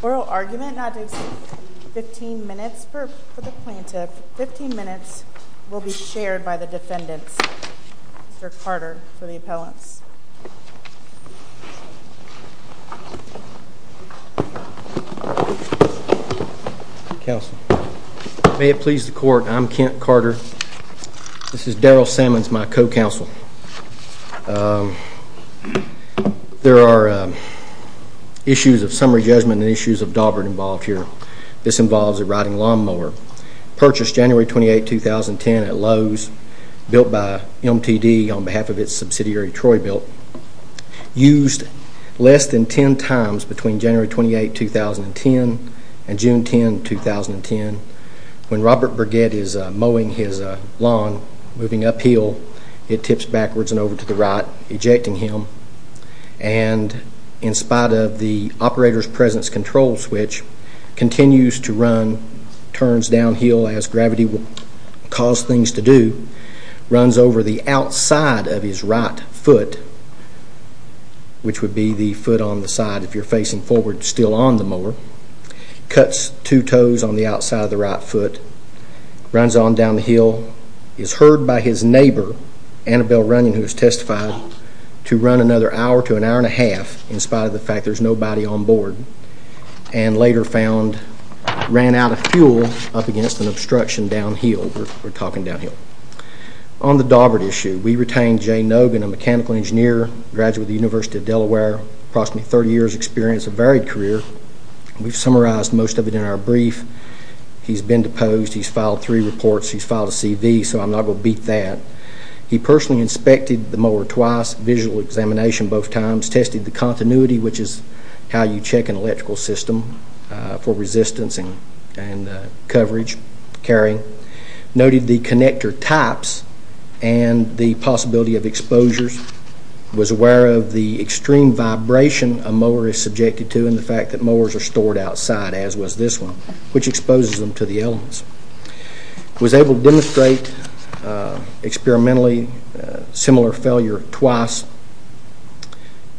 Burrow argument not to exceed 15 minutes for the plaintiff. 15 minutes will be shared by the defendants. Mr. Carter for the appellants. May it please the court, I'm Kent Carter. This is Darryl Sammons, my co-counsel. There are issues of summary judgment and issues of Daubert involved here. This involves a riding lawnmower purchased January 28, 2010 at Lowe's, built by MTD on behalf of its subsidiary Troy Bilt. Used less than 10 times between January 28, 2010 and June 10, 2010. When Robert Burgett is mowing his lawn, moving uphill, it tips backwards and over to the right, ejecting him. And in spite of the operator's presence control switch, continues to run, turns downhill as gravity will cause things to do, runs over the outside of his right foot, which would be the foot on the side if you're facing forward still on the mower, cuts two toes on the outside of the right foot, runs on down the hill, is heard by his neighbor, Annabelle Runyon, who is testified to run another hour to an hour and a half in spite of the fact there's nobody on board, and later ran out of fuel up against an obstruction downhill. We're talking downhill. On the Daubert issue, we retained Jay Nogan, a mechanical engineer, graduate of the University of Delaware, approximately 30 years experience, a varied career. We've summarized most of it in our brief. He's been deposed, he's filed three reports, he's filed a CV, so I'm not going to beat that. He personally inspected the mower twice, visual examination both times, tested the continuity, which is how you check an electrical system for resistance and coverage, carrying, noted the connector types and the possibility of exposures, was aware of the extreme vibration a mower is subjected to and the fact that mowers are stored outside, as was this one, which exposes them to the elements. Was able to demonstrate experimentally similar failure twice,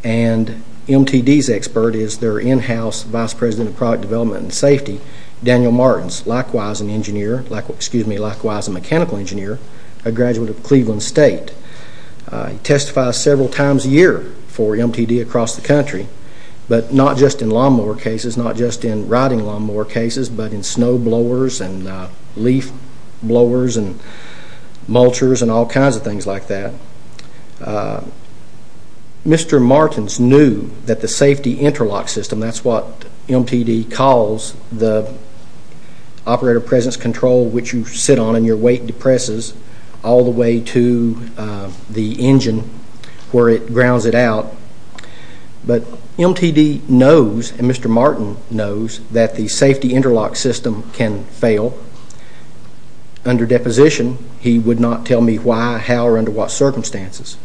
and MTD's expert is their in-house vice president of product development and safety, Daniel Martins, likewise an engineer, excuse me, likewise a mechanical engineer, a graduate of Cleveland State. He testifies several times a year for MTD across the country, but not just in lawn mower cases, not just in riding lawn mower cases, but in snow blowers and leaf blowers and mulchers and all kinds of things like that. Mr. Martins knew that the safety interlock system, that's what MTD calls the operator presence control, which you sit on and your weight depresses all the way to the engine where it grounds it out, but MTD knows and Mr. Martin knows that the safety interlock system can fail. Under deposition, he would not tell me why, how or under what circumstances.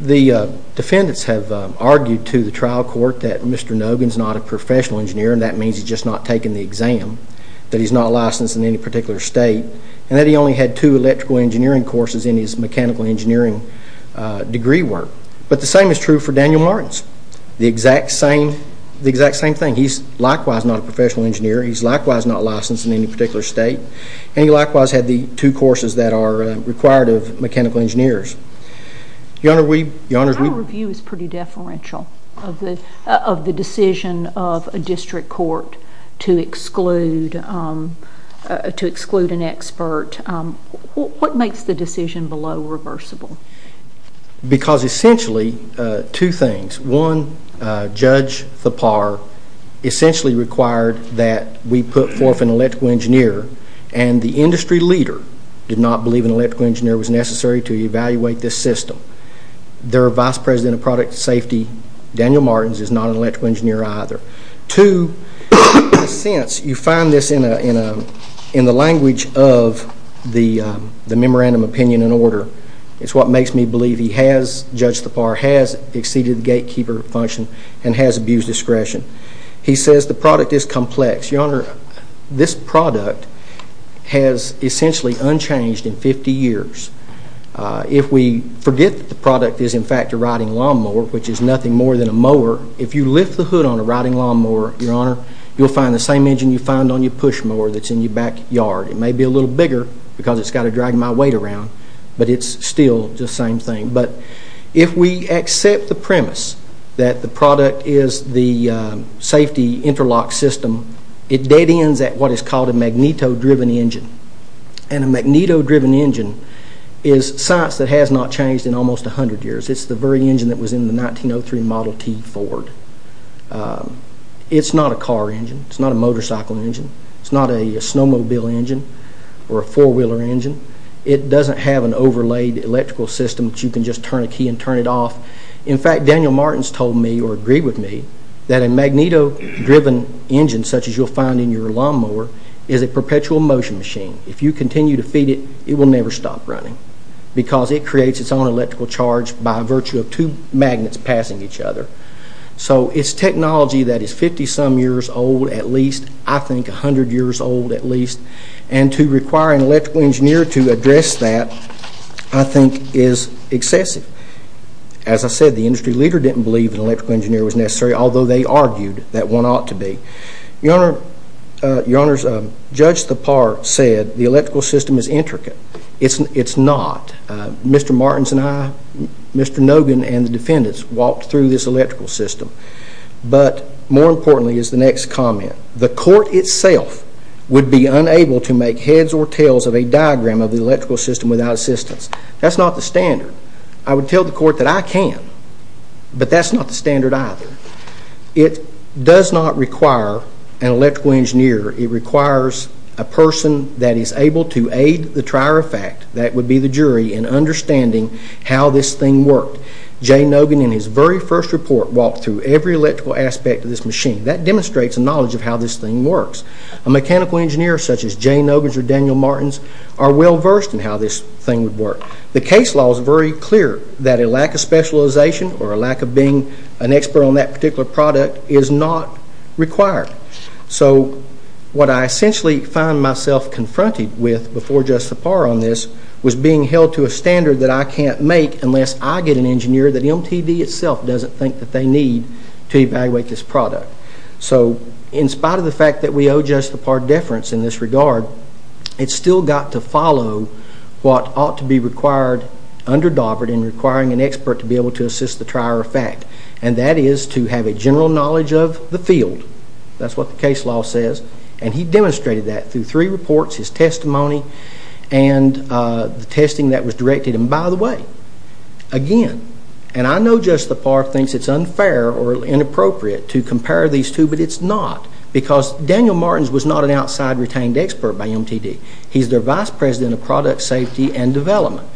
The defendants have argued to the trial court that Mr. Nogan is not a professional engineer and that means he's just not taken the exam, that he's not licensed in any particular state and that he only had two electrical engineering courses in his mechanical engineering degree work. But the same is true for Daniel Martins, the exact same thing. He's likewise not a professional engineer, he's likewise not licensed in any particular state and he likewise had the two courses that are required of mechanical engineers. Your Honor, we... My review is pretty deferential of the decision of a district court to exclude an expert. What makes the decision below reversible? Because essentially two things. One, Judge Thapar essentially required that we put forth an electrical engineer and the industry leader did not believe an electrical engineer was necessary to evaluate this system. Their vice president of product safety, Daniel Martins, is not an electrical engineer either. Two, in a sense, you find this in the language of the memorandum opinion and order. It's what makes me believe he has, Judge Thapar, has exceeded the gatekeeper function and has abused discretion. He says the product is complex. Your Honor, this product has essentially unchanged in 50 years. If we forget that the product is in fact a riding lawnmower, which is nothing more than a mower, if you lift the hood on a riding lawnmower, Your Honor, you'll find the same engine you found on your push mower that's in your backyard. It may be a little bigger because it's got to drag my weight around, but it's still the same thing. But if we accept the premise that the product is the safety interlock system, it dead ends at what is called a magneto-driven engine. And a magneto-driven engine is science that has not changed in almost 100 years. It's the very engine that was in the 1903 Model T Ford. It's not a car engine. It's not a motorcycle engine. It's not a snowmobile engine or a four-wheeler engine. It doesn't have an overlaid electrical system that you can just turn a key and turn it off. In fact, Daniel Martins told me or agreed with me that a magneto-driven engine such as you'll find in your lawnmower is a perpetual motion machine. If you continue to feed it, it will never stop running because it creates its own electrical charge by virtue of two magnets passing each other. So it's technology that is 50-some years old at least, I think 100 years old at least. And to require an electrical engineer to address that I think is excessive. As I said, the industry leader didn't believe an electrical engineer was necessary, although they argued that one ought to be. Your Honor, Judge Thapar said the electrical system is intricate. It's not. Mr. Martins and I, Mr. Nogan and the defendants walked through this electrical system. But more importantly is the next comment. The court itself would be unable to make heads or tails of a diagram of the electrical system without assistance. That's not the standard. I would tell the court that I can, but that's not the standard either. It does not require an electrical engineer. It requires a person that is able to aid the trier of fact, that would be the jury, in understanding how this thing worked. Jay Nogan in his very first report walked through every electrical aspect of this machine. That demonstrates a knowledge of how this thing works. A mechanical engineer such as Jay Nogan's or Daniel Martin's are well versed in how this thing would work. The case law is very clear that a lack of specialization or a lack of being an expert on that particular product is not required. So what I essentially find myself confronted with before just the par on this was being held to a standard that I can't make unless I get an engineer that MTV itself doesn't think that they need to evaluate this product. So in spite of the fact that we owe just the par deference in this regard, it's still got to follow what ought to be required under Dover in requiring an expert to be able to assist the trier of fact. And that is to have a general knowledge of the field. That's what the case law says. And he demonstrated that through three reports, his testimony, and the testing that was directed. And by the way, again, and I know just the par thinks it's unfair or inappropriate to compare these two, but it's not because Daniel Martin's was not an outside retained expert by MTD. He's their vice president of product safety and development.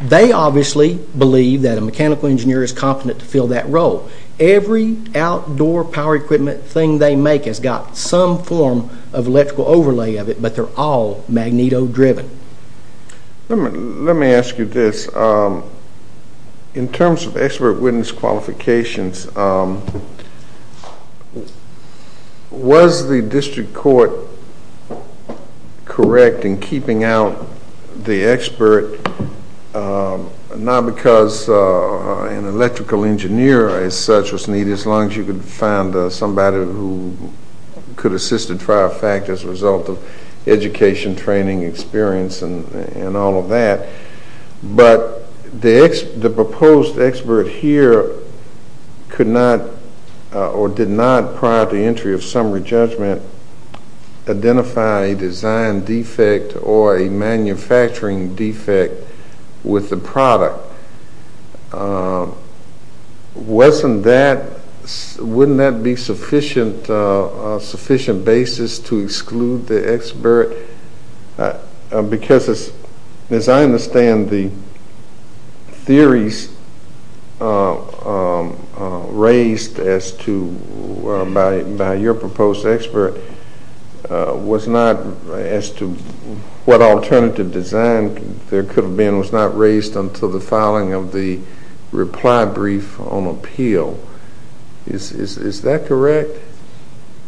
They obviously believe that a mechanical engineer is competent to fill that role. Every outdoor power equipment thing they make has got some form of electrical overlay of it, but they're all magneto driven. Let me ask you this. In terms of expert witness qualifications, was the district court correct in keeping out the expert not because an electrical engineer as such was needed, as long as you could find somebody who could assist the trier of fact as a result of education, training, experience, and all of that, but the proposed expert here could not or did not prior to the entry of summary judgment identify a design defect or a manufacturing defect with the product. Wouldn't that be a sufficient basis to exclude the expert? Because as I understand the theories raised by your proposed expert was not as to what alternative design there could have been was not raised until the filing of the reply brief on appeal. Is that correct?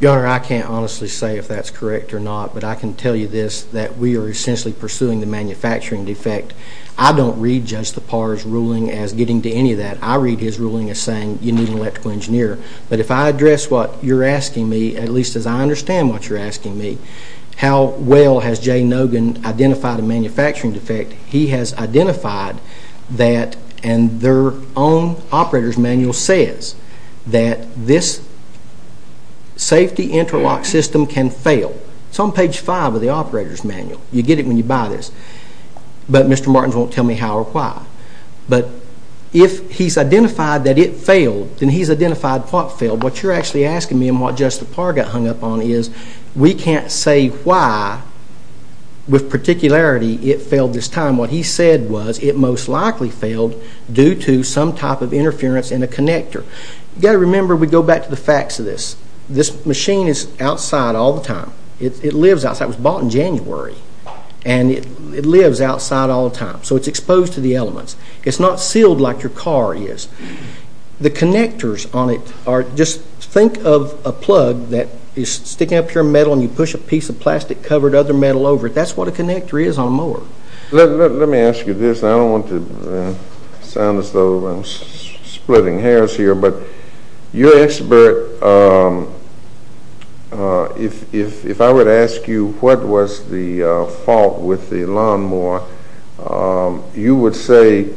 Your Honor, I can't honestly say if that's correct or not, but I can tell you this, that we are essentially pursuing the manufacturing defect. I don't read Judge Tappar's ruling as getting to any of that. I read his ruling as saying you need an electrical engineer. But if I address what you're asking me, at least as I understand what you're asking me, how well has Jay Nogan identified a manufacturing defect? He has identified that and their own operator's manual says that this safety interlock system can fail. It's on page five of the operator's manual. You get it when you buy this. But Mr. Martins won't tell me how or why. But if he's identified that it failed, then he's identified what failed. What you're actually asking me and what Judge Tappar got hung up on is we can't say why, with particularity, it failed this time. What he said was it most likely failed due to some type of interference in a connector. You've got to remember, we go back to the facts of this. This machine is outside all the time. It lives outside. It was bought in January and it lives outside all the time. So it's exposed to the elements. It's not sealed like your car is. The connectors on it are, just think of a plug that is sticking up your metal and you push a piece of plastic covered other metal over it. That's what a connector is on a mower. Let me ask you this. I don't want to sound as though I'm splitting hairs here. But your expert, if I were to ask you what was the fault with the lawnmower, you would say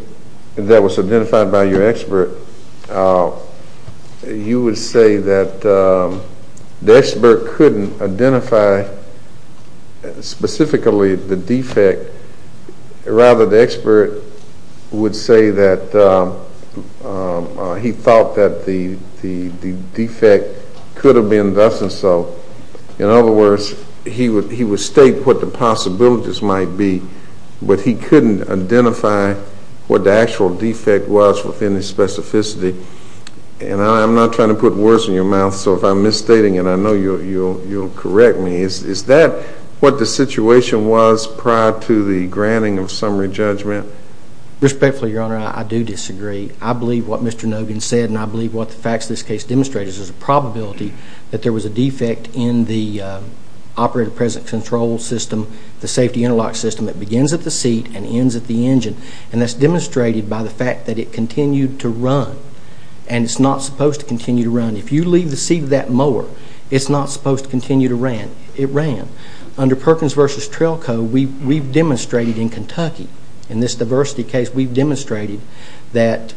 that was identified by your expert, you would say that the expert couldn't identify specifically the defect. Rather, the expert would say that he thought that the defect could have been thus and so. In other words, he would state what the possibilities might be, but he couldn't identify what the actual defect was within the specificity. And I'm not trying to put words in your mouth, so if I'm misstating it, I know you'll correct me. Is that what the situation was prior to the granting of summary judgment? Respectfully, Your Honor, I do disagree. I believe what Mr. Nogan said and I believe what the facts of this case demonstrate. There's a probability that there was a defect in the operator present control system, the safety interlock system that begins at the seat and ends at the engine. And that's demonstrated by the fact that it continued to run. And it's not supposed to continue to run. If you leave the seat of that mower, it's not supposed to continue to run. It ran. Under Perkins v. Trailco, we've demonstrated in Kentucky, in this diversity case, that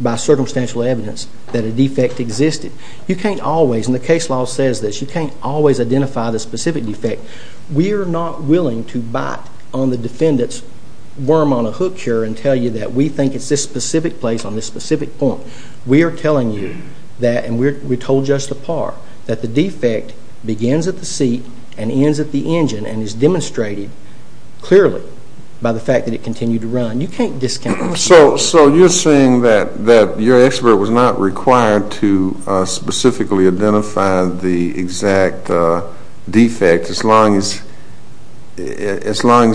by circumstantial evidence that a defect existed. You can't always, and the case law says this, you can't always identify the specific defect. We are not willing to bite on the defendant's worm on a hook here and tell you that we think it's this specific place on this specific point. We are telling you that, and we told you just the part, that the defect begins at the seat and ends at the engine and is demonstrated clearly by the fact that it continued to run. So you're saying that your expert was not required to specifically identify the exact defect as long as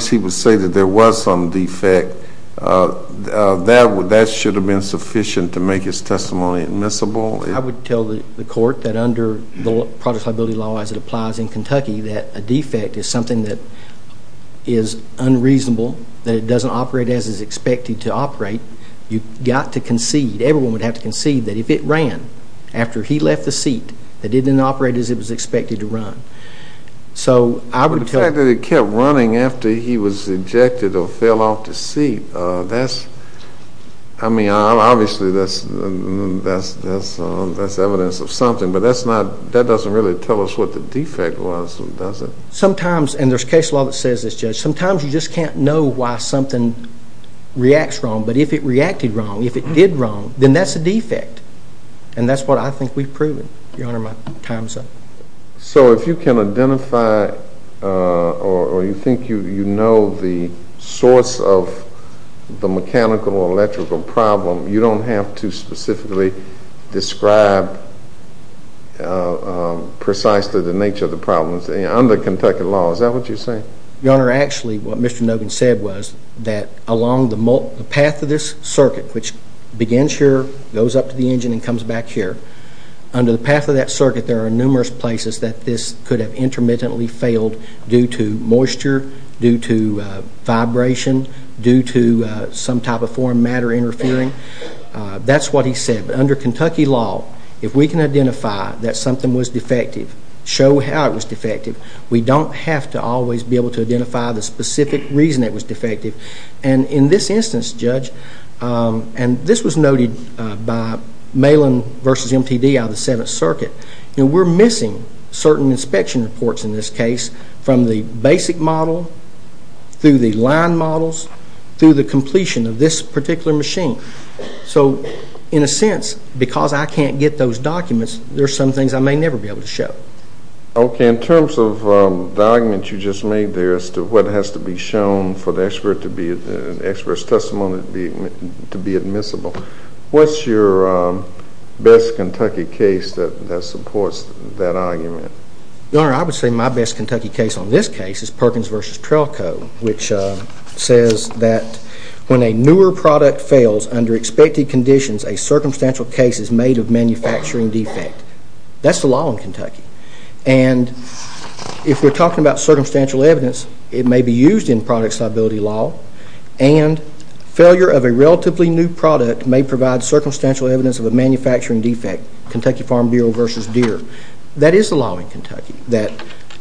he would say that there was some defect. That should have been sufficient to make his testimony admissible? I would tell the court that under the product liability law, as it applies in Kentucky, that a defect is something that is unreasonable, that it doesn't operate as it's expected to operate, you've got to concede, everyone would have to concede, that if it ran after he left the seat, that it didn't operate as it was expected to run. The fact that it kept running after he was ejected or fell off the seat, that's, I mean, obviously that's evidence of something, but that doesn't really tell us what the defect was, does it? Sometimes, and there's case law that says this, Judge, sometimes you just can't know why something reacts wrong, but if it reacted wrong, if it did wrong, then that's a defect, and that's what I think we've proven, Your Honor, my time's up. So if you can identify or you think you know the source of the mechanical or electrical problem, you don't have to specifically describe precisely the nature of the problem under Kentucky law, is that what you're saying? Your Honor, actually what Mr. Nogan said was that along the path of this circuit, which begins here, goes up to the engine and comes back here, under the path of that circuit there are numerous places that this could have intermittently failed due to moisture, due to vibration, due to some type of foreign matter interfering. That's what he said. Under Kentucky law, if we can identify that something was defective, show how it was defective, we don't have to always be able to identify the specific reason it was defective. And in this instance, Judge, and this was noted by Malin v. MTD out of the 7th Circuit, we're missing certain inspection reports in this case from the basic model, through the line models, through the completion of this particular machine. So in a sense, because I can't get those documents, there are some things I may never be able to show. Okay, in terms of the argument you just made there as to what has to be shown for the expert's testimony to be admissible, what's your best Kentucky case that supports that argument? Your Honor, I would say my best Kentucky case on this case is Perkins v. Trelco, which says that when a newer product fails under expected conditions, a circumstantial case is made of manufacturing defect. That's the law in Kentucky. And if we're talking about circumstantial evidence, it may be used in product stability law, and failure of a relatively new product may provide circumstantial evidence of a manufacturing defect, Kentucky Farm Bureau v. Deere. That is the law in Kentucky, that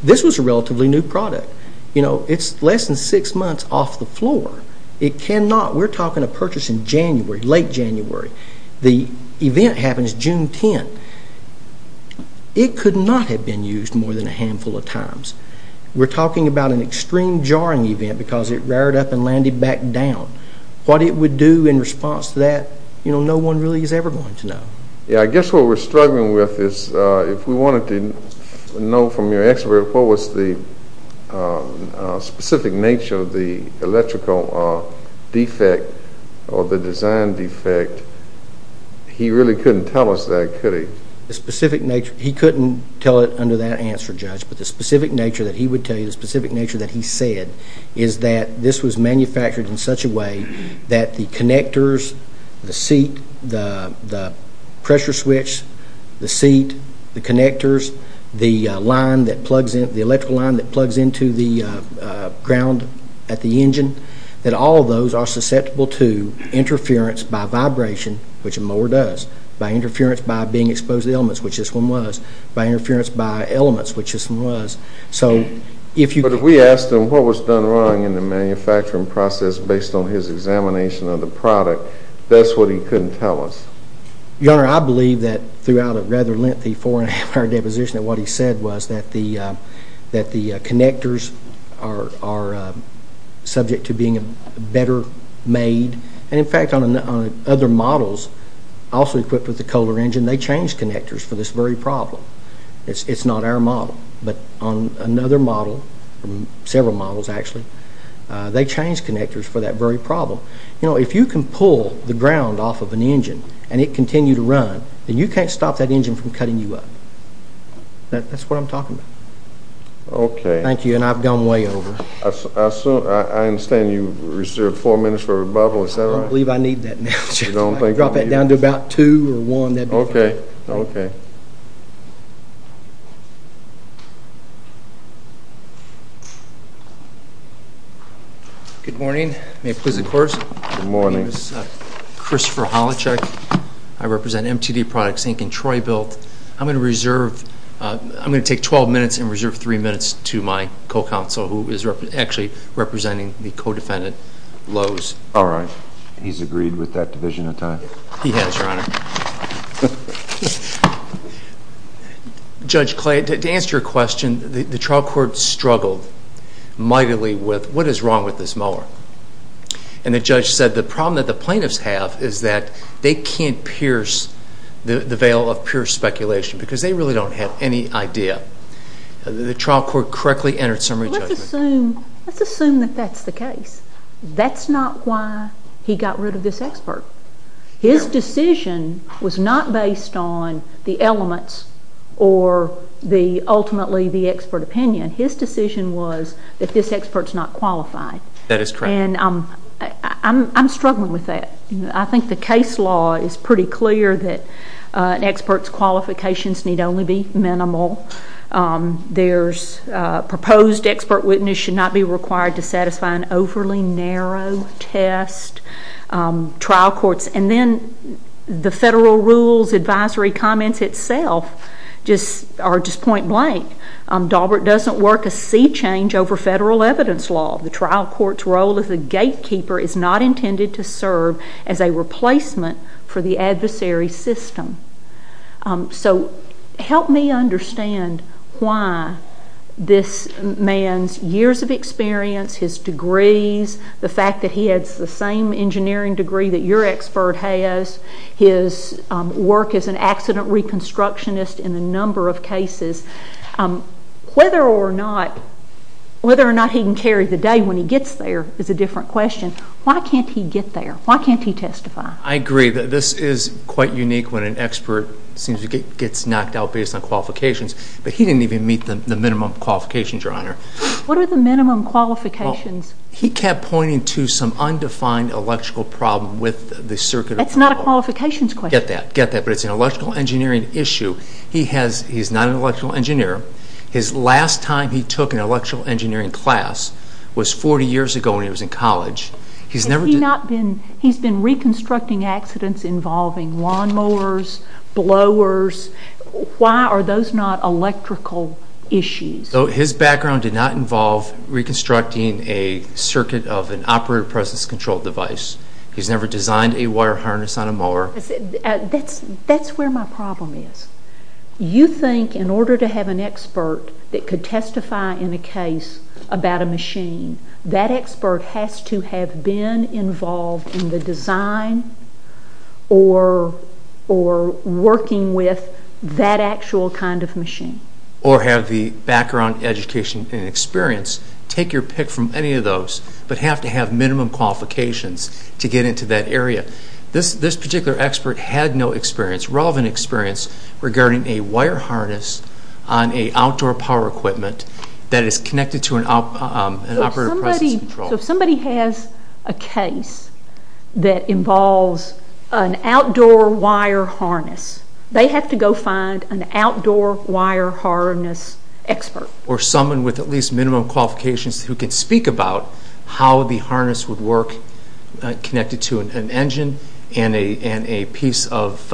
this was a relatively new product. You know, it's less than six months off the floor. It cannot, we're talking a purchase in January, late January. The event happens June 10th. It could not have been used more than a handful of times. We're talking about an extreme jarring event because it rared up and landed back down. What it would do in response to that, you know, no one really is ever going to know. Yeah, I guess what we're struggling with is if we wanted to know from your expert what was the specific nature of the electrical defect or the design defect, he really couldn't tell us that, could he? He couldn't tell it under that answer, Judge, but the specific nature that he would tell you, the specific nature that he said, is that this was manufactured in such a way that the connectors, the seat, the pressure switch, the seat, the connectors, the electrical line that plugs into the ground at the engine, that all of those are susceptible to interference by vibration, which a mower does, by interference by being exposed to elements, which this one was, by interference by elements, which this one was. But if we asked him what was done wrong in the manufacturing process based on his examination of the product, that's what he couldn't tell us. Your Honor, I believe that throughout a rather lengthy four-and-a-half-hour deposition that what he said was that the connectors are subject to being better made. And in fact, on other models also equipped with the Kohler engine, they changed connectors for this very problem. It's not our model, but on another model, several models actually, they changed connectors for that very problem. You know, if you can pull the ground off of an engine and it continue to run, then you can't stop that engine from cutting you up. That's what I'm talking about. Okay. Thank you, and I've gone way over. I understand you reserved four minutes for rebuttal, is that right? I don't believe I need that now, Judge. Drop that down to about two or one. Okay. Good morning. May it please the Court? Good morning. My name is Christopher Holacek. I represent MTD Products, Inc. in Troyville. I'm going to take 12 minutes and reserve three minutes to my co-counsel, who is actually representing the co-defendant, Lowe's. All right. He's agreed with that division of time? He has, Your Honor. Judge Clay, to answer your question, the trial court struggled mightily with what is wrong with this mower. And the judge said the problem that the plaintiffs have is that they can't pierce the veil of pure speculation because they really don't have any idea. The trial court correctly entered summary judgment. Let's assume that that's the case. That's not why he got rid of this expert. His decision was not based on the elements or ultimately the expert opinion. His decision was that this expert's not qualified. That is correct. And I'm struggling with that. I think the case law is pretty clear that an expert's qualifications need only be minimal. There's proposed expert witness should not be required to satisfy an overly narrow test. Trial courts and then the federal rules advisory comments itself are just point blank. Daubert doesn't work a sea change over federal evidence law. The trial court's role as a gatekeeper is not intended to serve as a replacement for the adversary system. So help me understand why this man's years of experience, his degrees, the fact that he has the same engineering degree that your expert has, his work as an accident reconstructionist in a number of cases, whether or not he can carry the day when he gets there is a different question. Why can't he get there? Why can't he testify? I agree. This is quite unique when an expert seems to get knocked out based on qualifications. But he didn't even meet the minimum qualifications, Your Honor. What are the minimum qualifications? He kept pointing to some undefined electrical problem with the circuit of control. That's not a qualifications question. Get that. Get that. But it's an electrical engineering issue. He's not an electrical engineer. His last time he took an electrical engineering class was 40 years ago when he was in college. He's been reconstructing accidents involving lawnmowers, blowers. Why are those not electrical issues? His background did not involve reconstructing a circuit of an operator process control device. He's never designed a wire harness on a mower. That's where my problem is. You think in order to have an expert that could testify in a case about a machine, that expert has to have been involved in the design or working with that actual kind of machine. Or have the background, education, and experience. Take your pick from any of those, but have to have minimum qualifications to get into that area. This particular expert had no experience, rather than experience, regarding a wire harness on an outdoor power equipment that is connected to an operator process control. So if somebody has a case that involves an outdoor wire harness, they have to go find an outdoor wire harness expert. Or someone with at least minimum qualifications who can speak about how the harness would work connected to an engine and a piece of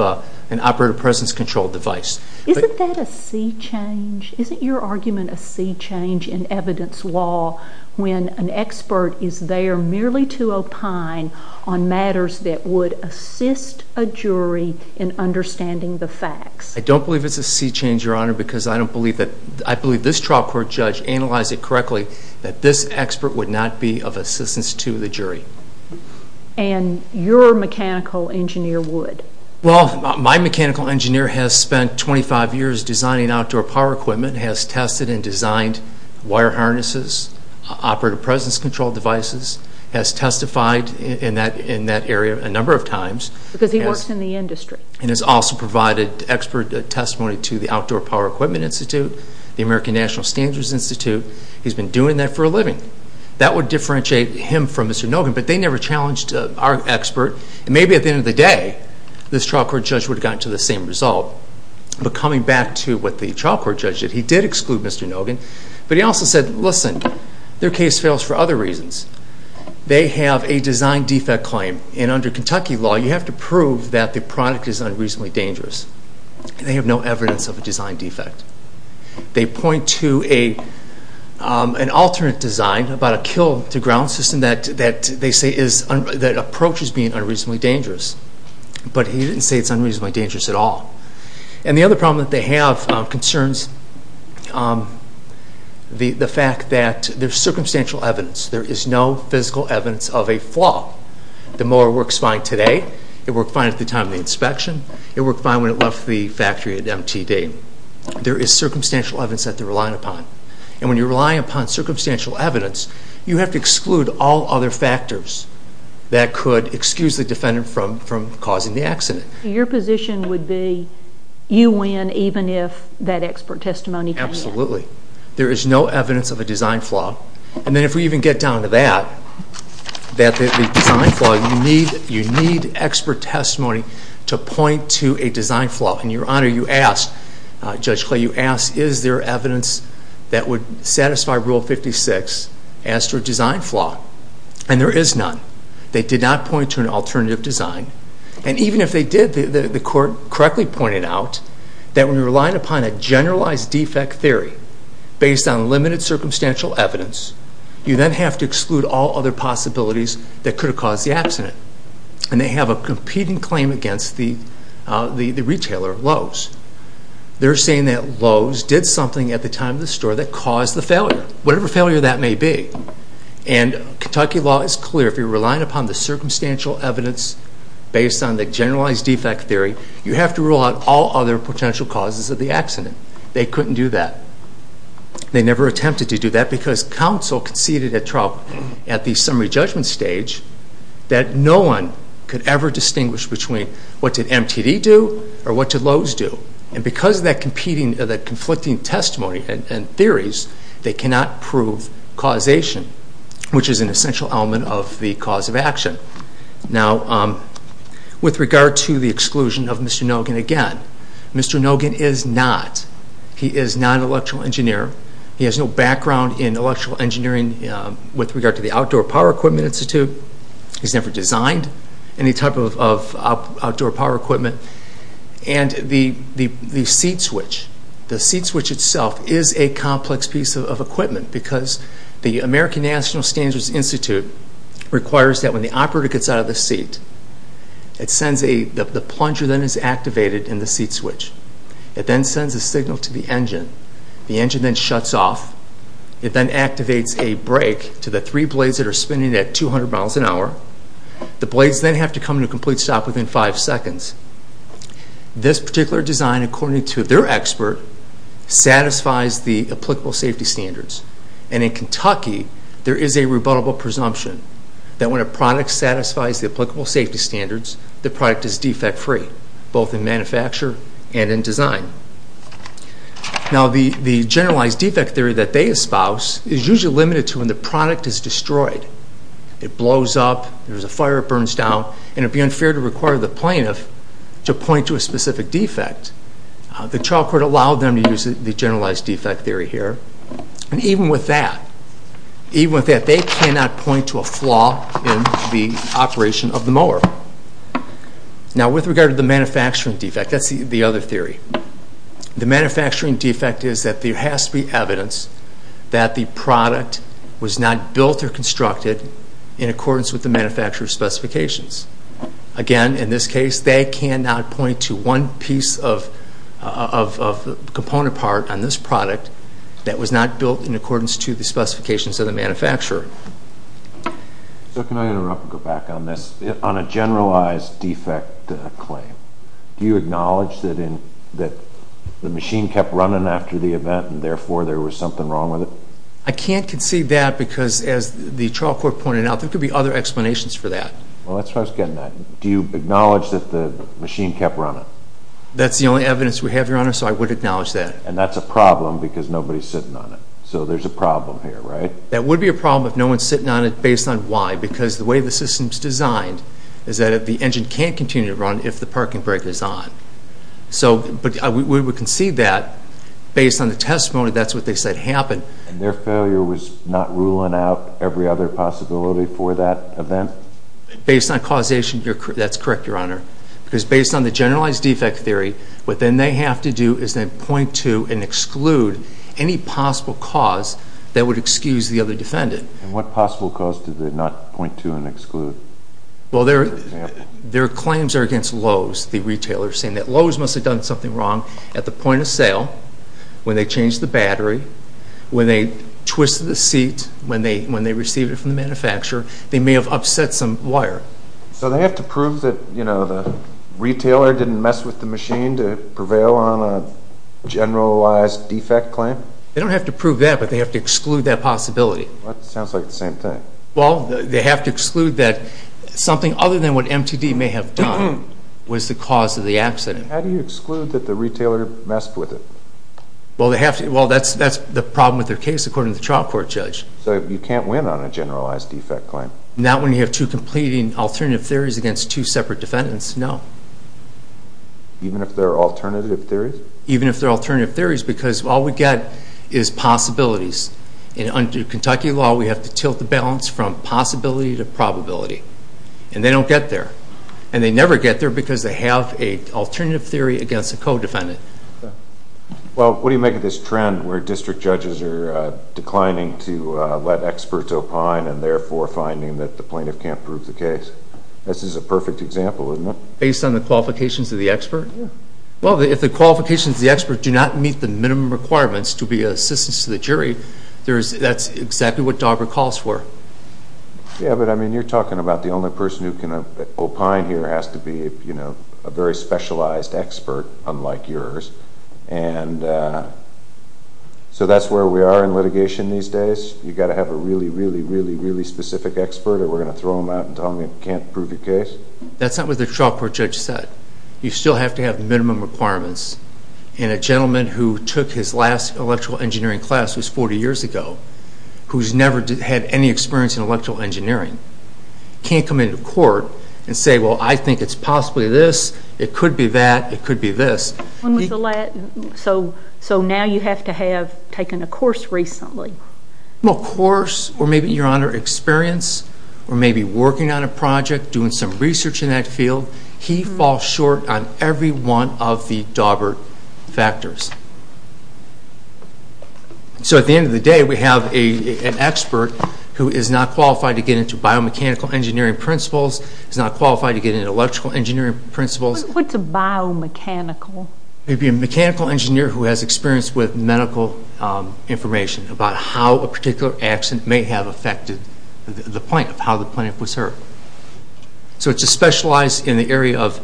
an operator process control device. Isn't that a sea change? Isn't your argument a sea change in evidence law when an expert is there merely to opine on matters that would assist a jury in understanding the facts? I don't believe it's a sea change, Your Honor, because I don't believe that... I believe this trial court judge analyzed it correctly that this expert would not be of assistance to the jury. And your mechanical engineer would? My mechanical engineer has spent 25 years designing outdoor power equipment, has tested and designed wire harnesses, operator process control devices, has testified in that area a number of times. Because he works in the industry. And has also provided expert testimony to the Outdoor Power Equipment Institute, the American National Standards Institute. He's been doing that for a living. That would differentiate him from Mr. Nogan. But they never challenged our expert. And maybe at the end of the day, this trial court judge would have gotten to the same result. But coming back to what the trial court judge did, he did exclude Mr. Nogan. But he also said, listen, their case fails for other reasons. They have a design defect claim. And under Kentucky law, you have to prove that the product is unreasonably dangerous. They have no evidence of a design defect. They point to an alternate design about a kill-to-ground system that approaches being unreasonably dangerous. But he didn't say it's unreasonably dangerous at all. And the other problem that they have concerns the fact that there's circumstantial evidence. There is no physical evidence of a flaw. The mower works fine today. It worked fine at the time of the inspection. It worked fine when it left the factory at MTD. There is circumstantial evidence that they're relying upon. And when you're relying upon circumstantial evidence, you have to exclude all other factors that could excuse the defendant from causing the accident. Your position would be you win even if that expert testimony fails? Absolutely. There is no evidence of a design flaw. And then if we even get down to that, that the design flaw, you need expert testimony to point to a design flaw. And, Your Honor, you asked, Judge Clay, you asked is there evidence that would satisfy Rule 56 as to a design flaw? And there is none. They did not point to an alternative design. And even if they did, the court correctly pointed out that when you're relying upon a generalized defect theory based on limited circumstantial evidence, you then have to exclude all other possibilities that could have caused the accident. And they have a competing claim against the retailer, Lowe's. They're saying that Lowe's did something at the time of the store that caused the failure, whatever failure that may be. And Kentucky law is clear. If you're relying upon the circumstantial evidence based on the generalized defect theory, you have to rule out all other potential causes of the accident. They couldn't do that. They never attempted to do that because counsel conceded at trial at the summary judgment stage that no one could ever distinguish between what did MTD do or what did Lowe's do. And because of that conflicting testimony and theories, they cannot prove causation, which is an essential element of the cause of action. Now, with regard to the exclusion of Mr. Nogin again, Mr. Nogin is not. He is not an electrical engineer. He has no background in electrical engineering with regard to the Outdoor Power Equipment Institute. He's never designed any type of outdoor power equipment. And the seat switch, the seat switch itself is a complex piece of equipment because the American National Standards Institute requires that when the operator gets out of the seat, the plunger then is activated in the seat switch. It then sends a signal to the engine. The engine then shuts off. It then activates a brake to the three blades that are spinning at 200 miles an hour. The blades then have to come to a complete stop within five seconds. This particular design, according to their expert, satisfies the applicable safety standards. And in Kentucky, there is a rebuttable presumption that when a product satisfies the applicable safety standards, the product is defect-free, both in manufacture and in design. Now, the generalized defect theory that they espouse is usually limited to when the product is destroyed. It blows up, there's a fire, it burns down, and it would be unfair to require the plaintiff to point to a specific defect. The trial court allowed them to use the generalized defect theory here. And even with that, even with that, they cannot point to a flaw in the operation of the mower. Now, with regard to the manufacturing defect, that's the other theory. The manufacturing defect is that there has to be evidence that the product was not built or constructed in accordance with the manufacturer's specifications. Again, in this case, they cannot point to one piece of the component part on this product that was not built in accordance to the specifications of the manufacturer. So can I interrupt and go back on this? On a generalized defect claim, do you acknowledge that the machine kept running and therefore there was something wrong with it? I can't concede that because, as the trial court pointed out, there could be other explanations for that. Well, that's where I was getting at. Do you acknowledge that the machine kept running? That's the only evidence we have, Your Honor, so I would acknowledge that. And that's a problem because nobody's sitting on it. So there's a problem here, right? That would be a problem if no one's sitting on it based on why, because the way the system's designed is that the engine can't continue to run if the parking brake is on. We would concede that. Based on the testimony, that's what they said happened. And their failure was not ruling out every other possibility for that event? Based on causation, that's correct, Your Honor. Because based on the generalized defect theory, what then they have to do is they point to and exclude any possible cause that would excuse the other defendant. And what possible cause did they not point to and exclude? Well, their claims are against Lowe's, the retailer, saying that Lowe's must have done something wrong at the point of sale when they changed the battery, when they twisted the seat, when they received it from the manufacturer. They may have upset some wire. So they have to prove that, you know, the retailer didn't mess with the machine to prevail on a generalized defect claim? They don't have to prove that, but they have to exclude that possibility. That sounds like the same thing. Well, they have to exclude that something other than what MTD may have done was the cause of the accident. How do you exclude that the retailer messed with it? Well, that's the problem with their case, according to the trial court judge. So you can't win on a generalized defect claim? Not when you have two competing alternative theories against two separate defendants, no. Even if they're alternative theories? Even if they're alternative theories, because all we get is possibilities. And under Kentucky law, we have to tilt the balance from possibility to probability. And they don't get there. And they never get there because they have an alternative theory against a co-defendant. Well, what do you make of this trend where district judges are declining to let experts opine and therefore finding that the plaintiff can't prove the case? This is a perfect example, isn't it? Based on the qualifications of the expert? Well, if the qualifications of the expert do not meet the minimum requirements to be assistance to the jury, that's exactly what Dauber calls for. Yeah, but, I mean, you're talking about the only person who can opine here has to be, you know, a very specialized expert, unlike yours. And, uh... So that's where we are in litigation these days. You've got to have a really, really, really, really specific expert, or we're going to throw him out and tell him he can't prove your case? That's not what the trial court judge said. You still have to have minimum requirements. And a gentleman who took his last electrical engineering class was 40 years ago, who's never had any experience in electrical engineering, can't come into court and say, well, I think it's possibly this, it could be that, it could be this. So now you have to have taken a course recently? Well, a course, or maybe, Your Honor, experience, or maybe working on a project, doing some research in that field. He falls short on every one So at the end of the day, we have an expert who is not qualified to get into biomechanical engineering principles, is not qualified to get into electrical engineering principles. What's a biomechanical? It would be a mechanical engineer who has experience with medical information about how a particular accident may have affected the plant, how the plant was hurt. So it's specialized in the area of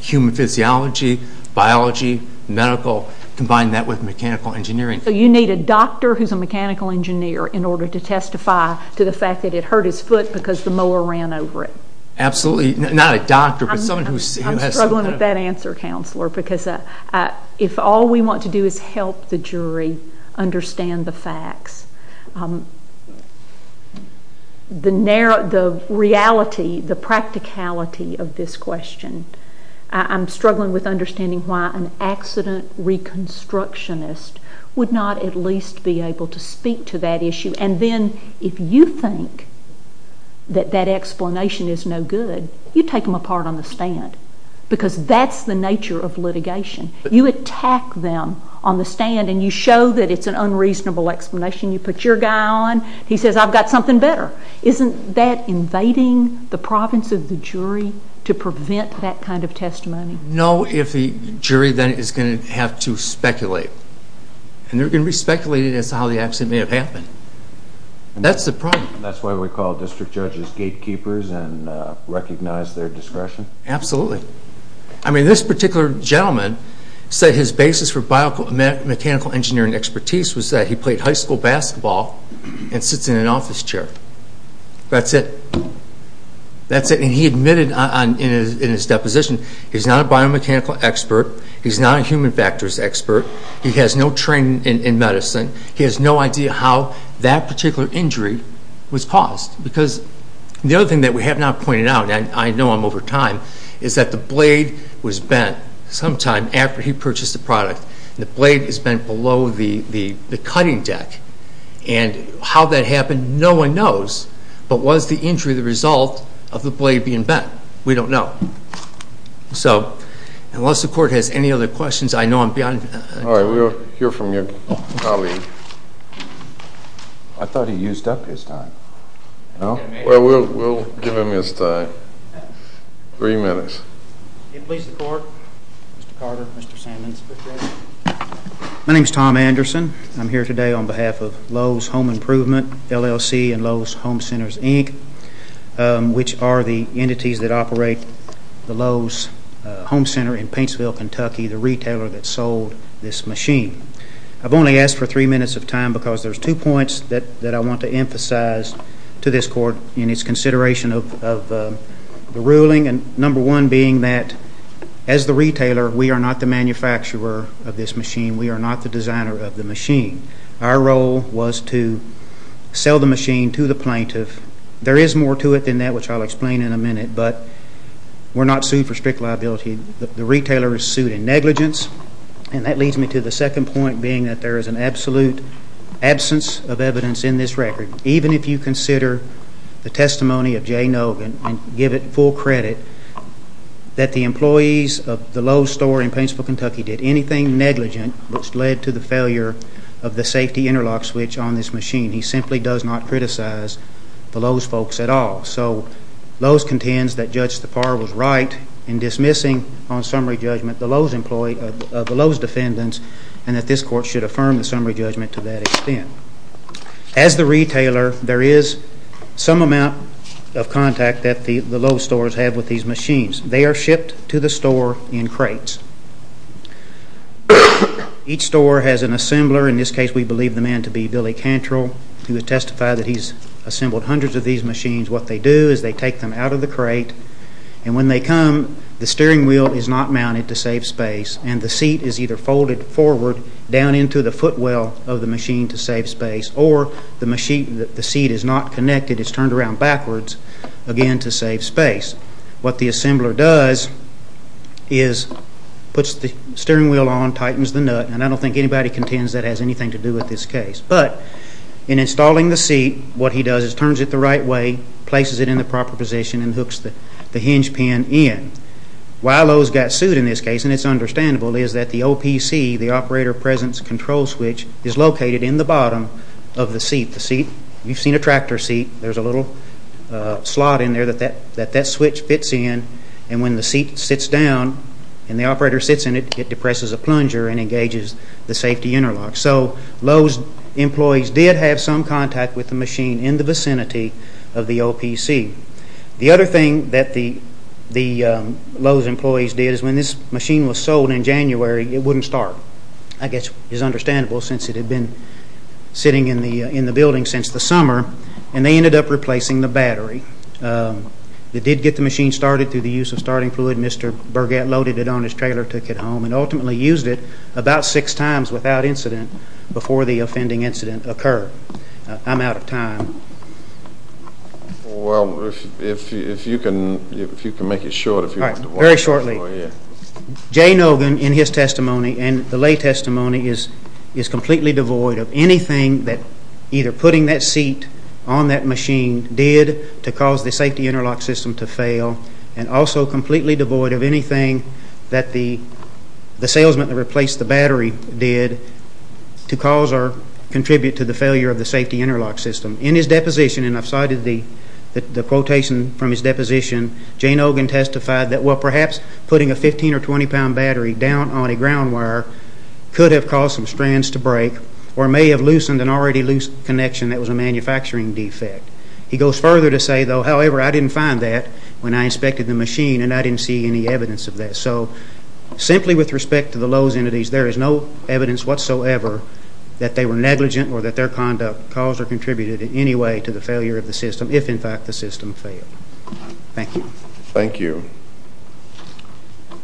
human physiology, biology, medical, combine that with mechanical engineering. So you need a doctor who's a mechanical engineer in order to testify to the fact that it hurt his foot because the mower ran over it. Absolutely, not a doctor, but someone who has... I'm struggling with that answer, Counselor, because if all we want to do is help the jury understand the facts, the reality, the practicality of this question, I'm struggling with understanding why an accident reconstructionist would not at least be able to speak to that issue. And then if you think that that explanation is no good, you take them apart on the stand because that's the nature of litigation. You attack them on the stand and you show that it's an unreasonable explanation. You put your guy on. He says, I've got something better. Isn't that invading the province of the jury to prevent that kind of testimony? No, if the jury then is going to have to speculate. And they're going to be speculating as to how the accident may have happened. That's the problem. And that's why we call district judges gatekeepers and recognize their discretion? Absolutely. I mean, this particular gentleman said his basis for mechanical engineering expertise was that he played high school basketball and sits in an office chair. That's it. That's it. And he admitted in his deposition he's not a biomechanical expert, he's not a human factors expert, he has no training in medicine, he has no idea how that particular injury was caused. Because the other thing that we have not pointed out, and I know I'm over time, is that the blade was bent sometime after he purchased the product. The blade is bent below the cutting deck. And how that happened, no one knows. But was the injury the result of the blade being bent? We don't know. So unless the court has any other questions, I know I'm beyond time. All right, we'll hear from your colleague. I thought he used up his time. Well, we'll give him his time. Three minutes. Please, the court. Mr. Carter, Mr. Sammons. My name's Tom Anderson. I'm here today on behalf of Lowe's Home Improvement, LLC, and Lowe's Home Centers, Inc., which are the entities that operate the Lowe's Home Center in Paintsville, Kentucky, the retailer that sold this machine. I've only asked for three minutes of time because there's two points that I want to emphasize to this court in its consideration of the ruling, number one being that, as the retailer, we are not the manufacturer of this machine. We are not the designer of the machine. Our role was to sell the machine to the plaintiff. There is more to it than that, which I'll explain in a minute, but we're not sued for strict liability. The retailer is sued in negligence, and that leads me to the second point being that there is an absolute absence of evidence in this record. Even if you consider the testimony of Jay Nogan and give it full credit, that the employees of the Lowe's store in Paintsville, Kentucky, did anything negligent which led to the failure of the safety interlock switch on this machine. He simply does not criticize the Lowe's folks at all. So Lowe's contends that Judge Tappar was right in dismissing on summary judgment the Lowe's defendant and that this court should affirm the summary judgment to that extent. As the retailer, there is some amount of contact that the Lowe's stores have with these machines. They are shipped to the store in crates. Each store has an assembler. In this case, we believe the man to be Billy Cantrell, who has testified that he's assembled hundreds of these machines. What they do is they take them out of the crate, and when they come, the steering wheel is not mounted to save space, and the seat is either folded forward, down into the footwell of the machine to save space, or the seat is not connected. It's turned around backwards again to save space. What the assembler does is puts the steering wheel on, tightens the nut, and I don't think anybody contends that has anything to do with this case. But in installing the seat, what he does is turns it the right way, places it in the proper position, and hooks the hinge pin in. Why Lowe's got suit in this case, and it's understandable, is that the OPC, the Operator Presence Control Switch, is located in the bottom of the seat. You've seen a tractor seat. There's a little slot in there that that switch fits in, and when the seat sits down and the operator sits in it, it depresses a plunger and engages the safety interlock. So Lowe's employees did have some contact with the machine in the vicinity of the OPC. The other thing that the Lowe's employees did is when this machine was sold in January, it wouldn't start. I guess it's understandable, since it had been sitting in the building since the summer, and they ended up replacing the battery. They did get the machine started through the use of starting fluid. Mr. Burgett loaded it on his trailer, took it home, and ultimately used it about six times without incident before the offending incident occurred. I'm out of time. Well, if you can make it short. All right, very shortly. Jay Nogan, in his testimony and the lay testimony, is completely devoid of anything that either putting that seat on that machine did to cause the safety interlock system to fail and also completely devoid of anything that the salesman that replaced the battery did to cause or contribute to the failure of the safety interlock system. In his deposition, and I've cited the quotation from his deposition, Jay Nogan testified that, well, perhaps putting a 15- or 20-pound battery down on a ground wire could have caused some strands to break or may have loosened an already loose connection that was a manufacturing defect. He goes further to say, though, however, I didn't find that when I inspected the machine, and I didn't see any evidence of that. So simply with respect to the Lowe's entities, there is no evidence whatsoever that they were negligent or that their conduct caused or contributed in any way to the failure of the system, if in fact the system failed. Thank you. Thank you.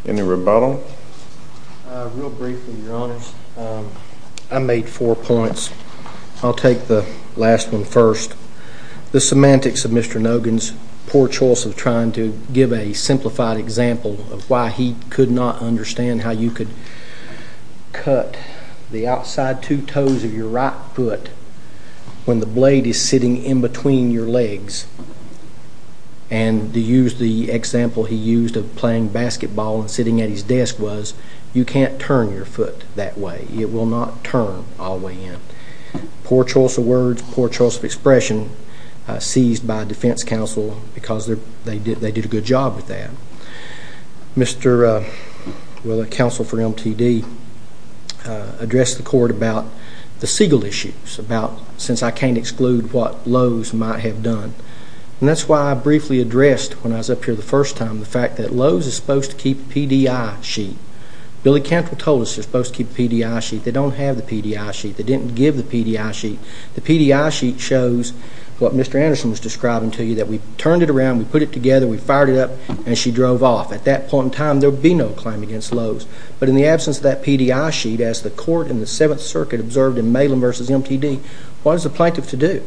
Any rebuttal? Real briefly, Your Honors. I made four points. I'll take the last one first. The semantics of Mr. Nogan's poor choice of trying to give a simplified example of why he could not understand how you could cut the outside two toes of your right foot when the blade is sitting in between your legs and to use the example he used of playing basketball and sitting at his desk was you can't turn your foot that way. It will not turn all the way in. Poor choice of words, poor choice of expression seized by a defense counsel because they did a good job with that. Mr. Counsel for MTD addressed the court about the Siegel issues, about since I can't exclude what Lowe's might have done, and that's why I briefly addressed when I was up here the first time the fact that Lowe's is supposed to keep a PDI sheet. Billy Cantrell told us they're supposed to keep a PDI sheet. They don't have the PDI sheet. They didn't give the PDI sheet. The PDI sheet shows what Mr. Anderson was describing to you, that we turned it around, we put it together, we fired it up, and she drove off. At that point in time, there would be no claim against Lowe's, but in the absence of that PDI sheet, as the court in the Seventh Circuit observed in Malem v. MTD, what is the plaintiff to do?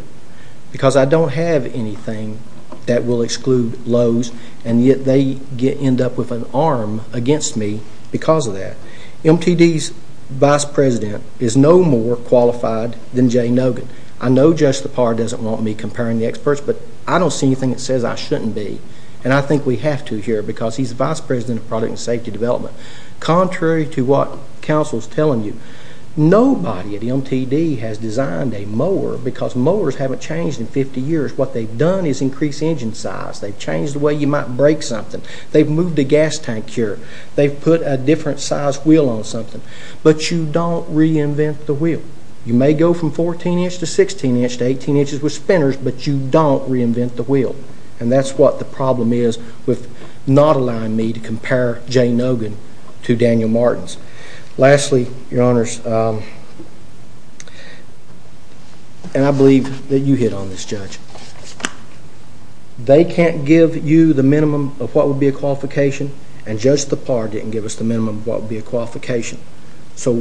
Because I don't have anything that will exclude Lowe's, and yet they end up with an arm against me because of that. MTD's vice president is no more qualified than Jay Nogan. I know Judge Lepar doesn't want me comparing the experts, but I don't see anything that says I shouldn't be, and I think we have to here because he's the vice president of product and safety development. Contrary to what counsel's telling you, nobody at MTD has designed a mower because mowers haven't changed in 50 years. What they've done is increase engine size. They've changed the way you might break something. They've moved the gas tank here. They've put a different size wheel on something, but you don't reinvent the wheel. You may go from 14 inch to 16 inch to 18 inches with spinners, but you don't reinvent the wheel, and that's what the problem is with not allowing me to compare Jay Nogan to Daniel Martins. Lastly, Your Honors, and I believe that you hit on this, Judge, they can't give you the minimum of what would be a qualification, and Judge Lepar didn't give us the minimum of what would be a qualification. So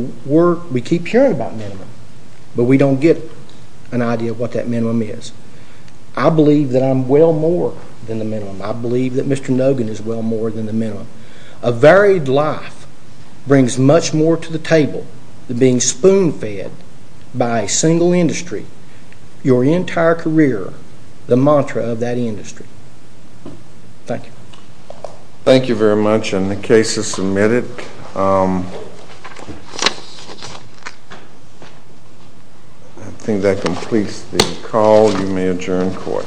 we keep hearing about minimum, but we don't get an idea of what that minimum is. I believe that I'm well more than the minimum. I believe that Mr. Nogan is well more than the minimum. A varied life brings much more to the table than being spoon-fed by a single industry. Your entire career, the mantra of that industry. Thank you. Thank you very much, and the case is submitted. I think that completes the call. You may adjourn court.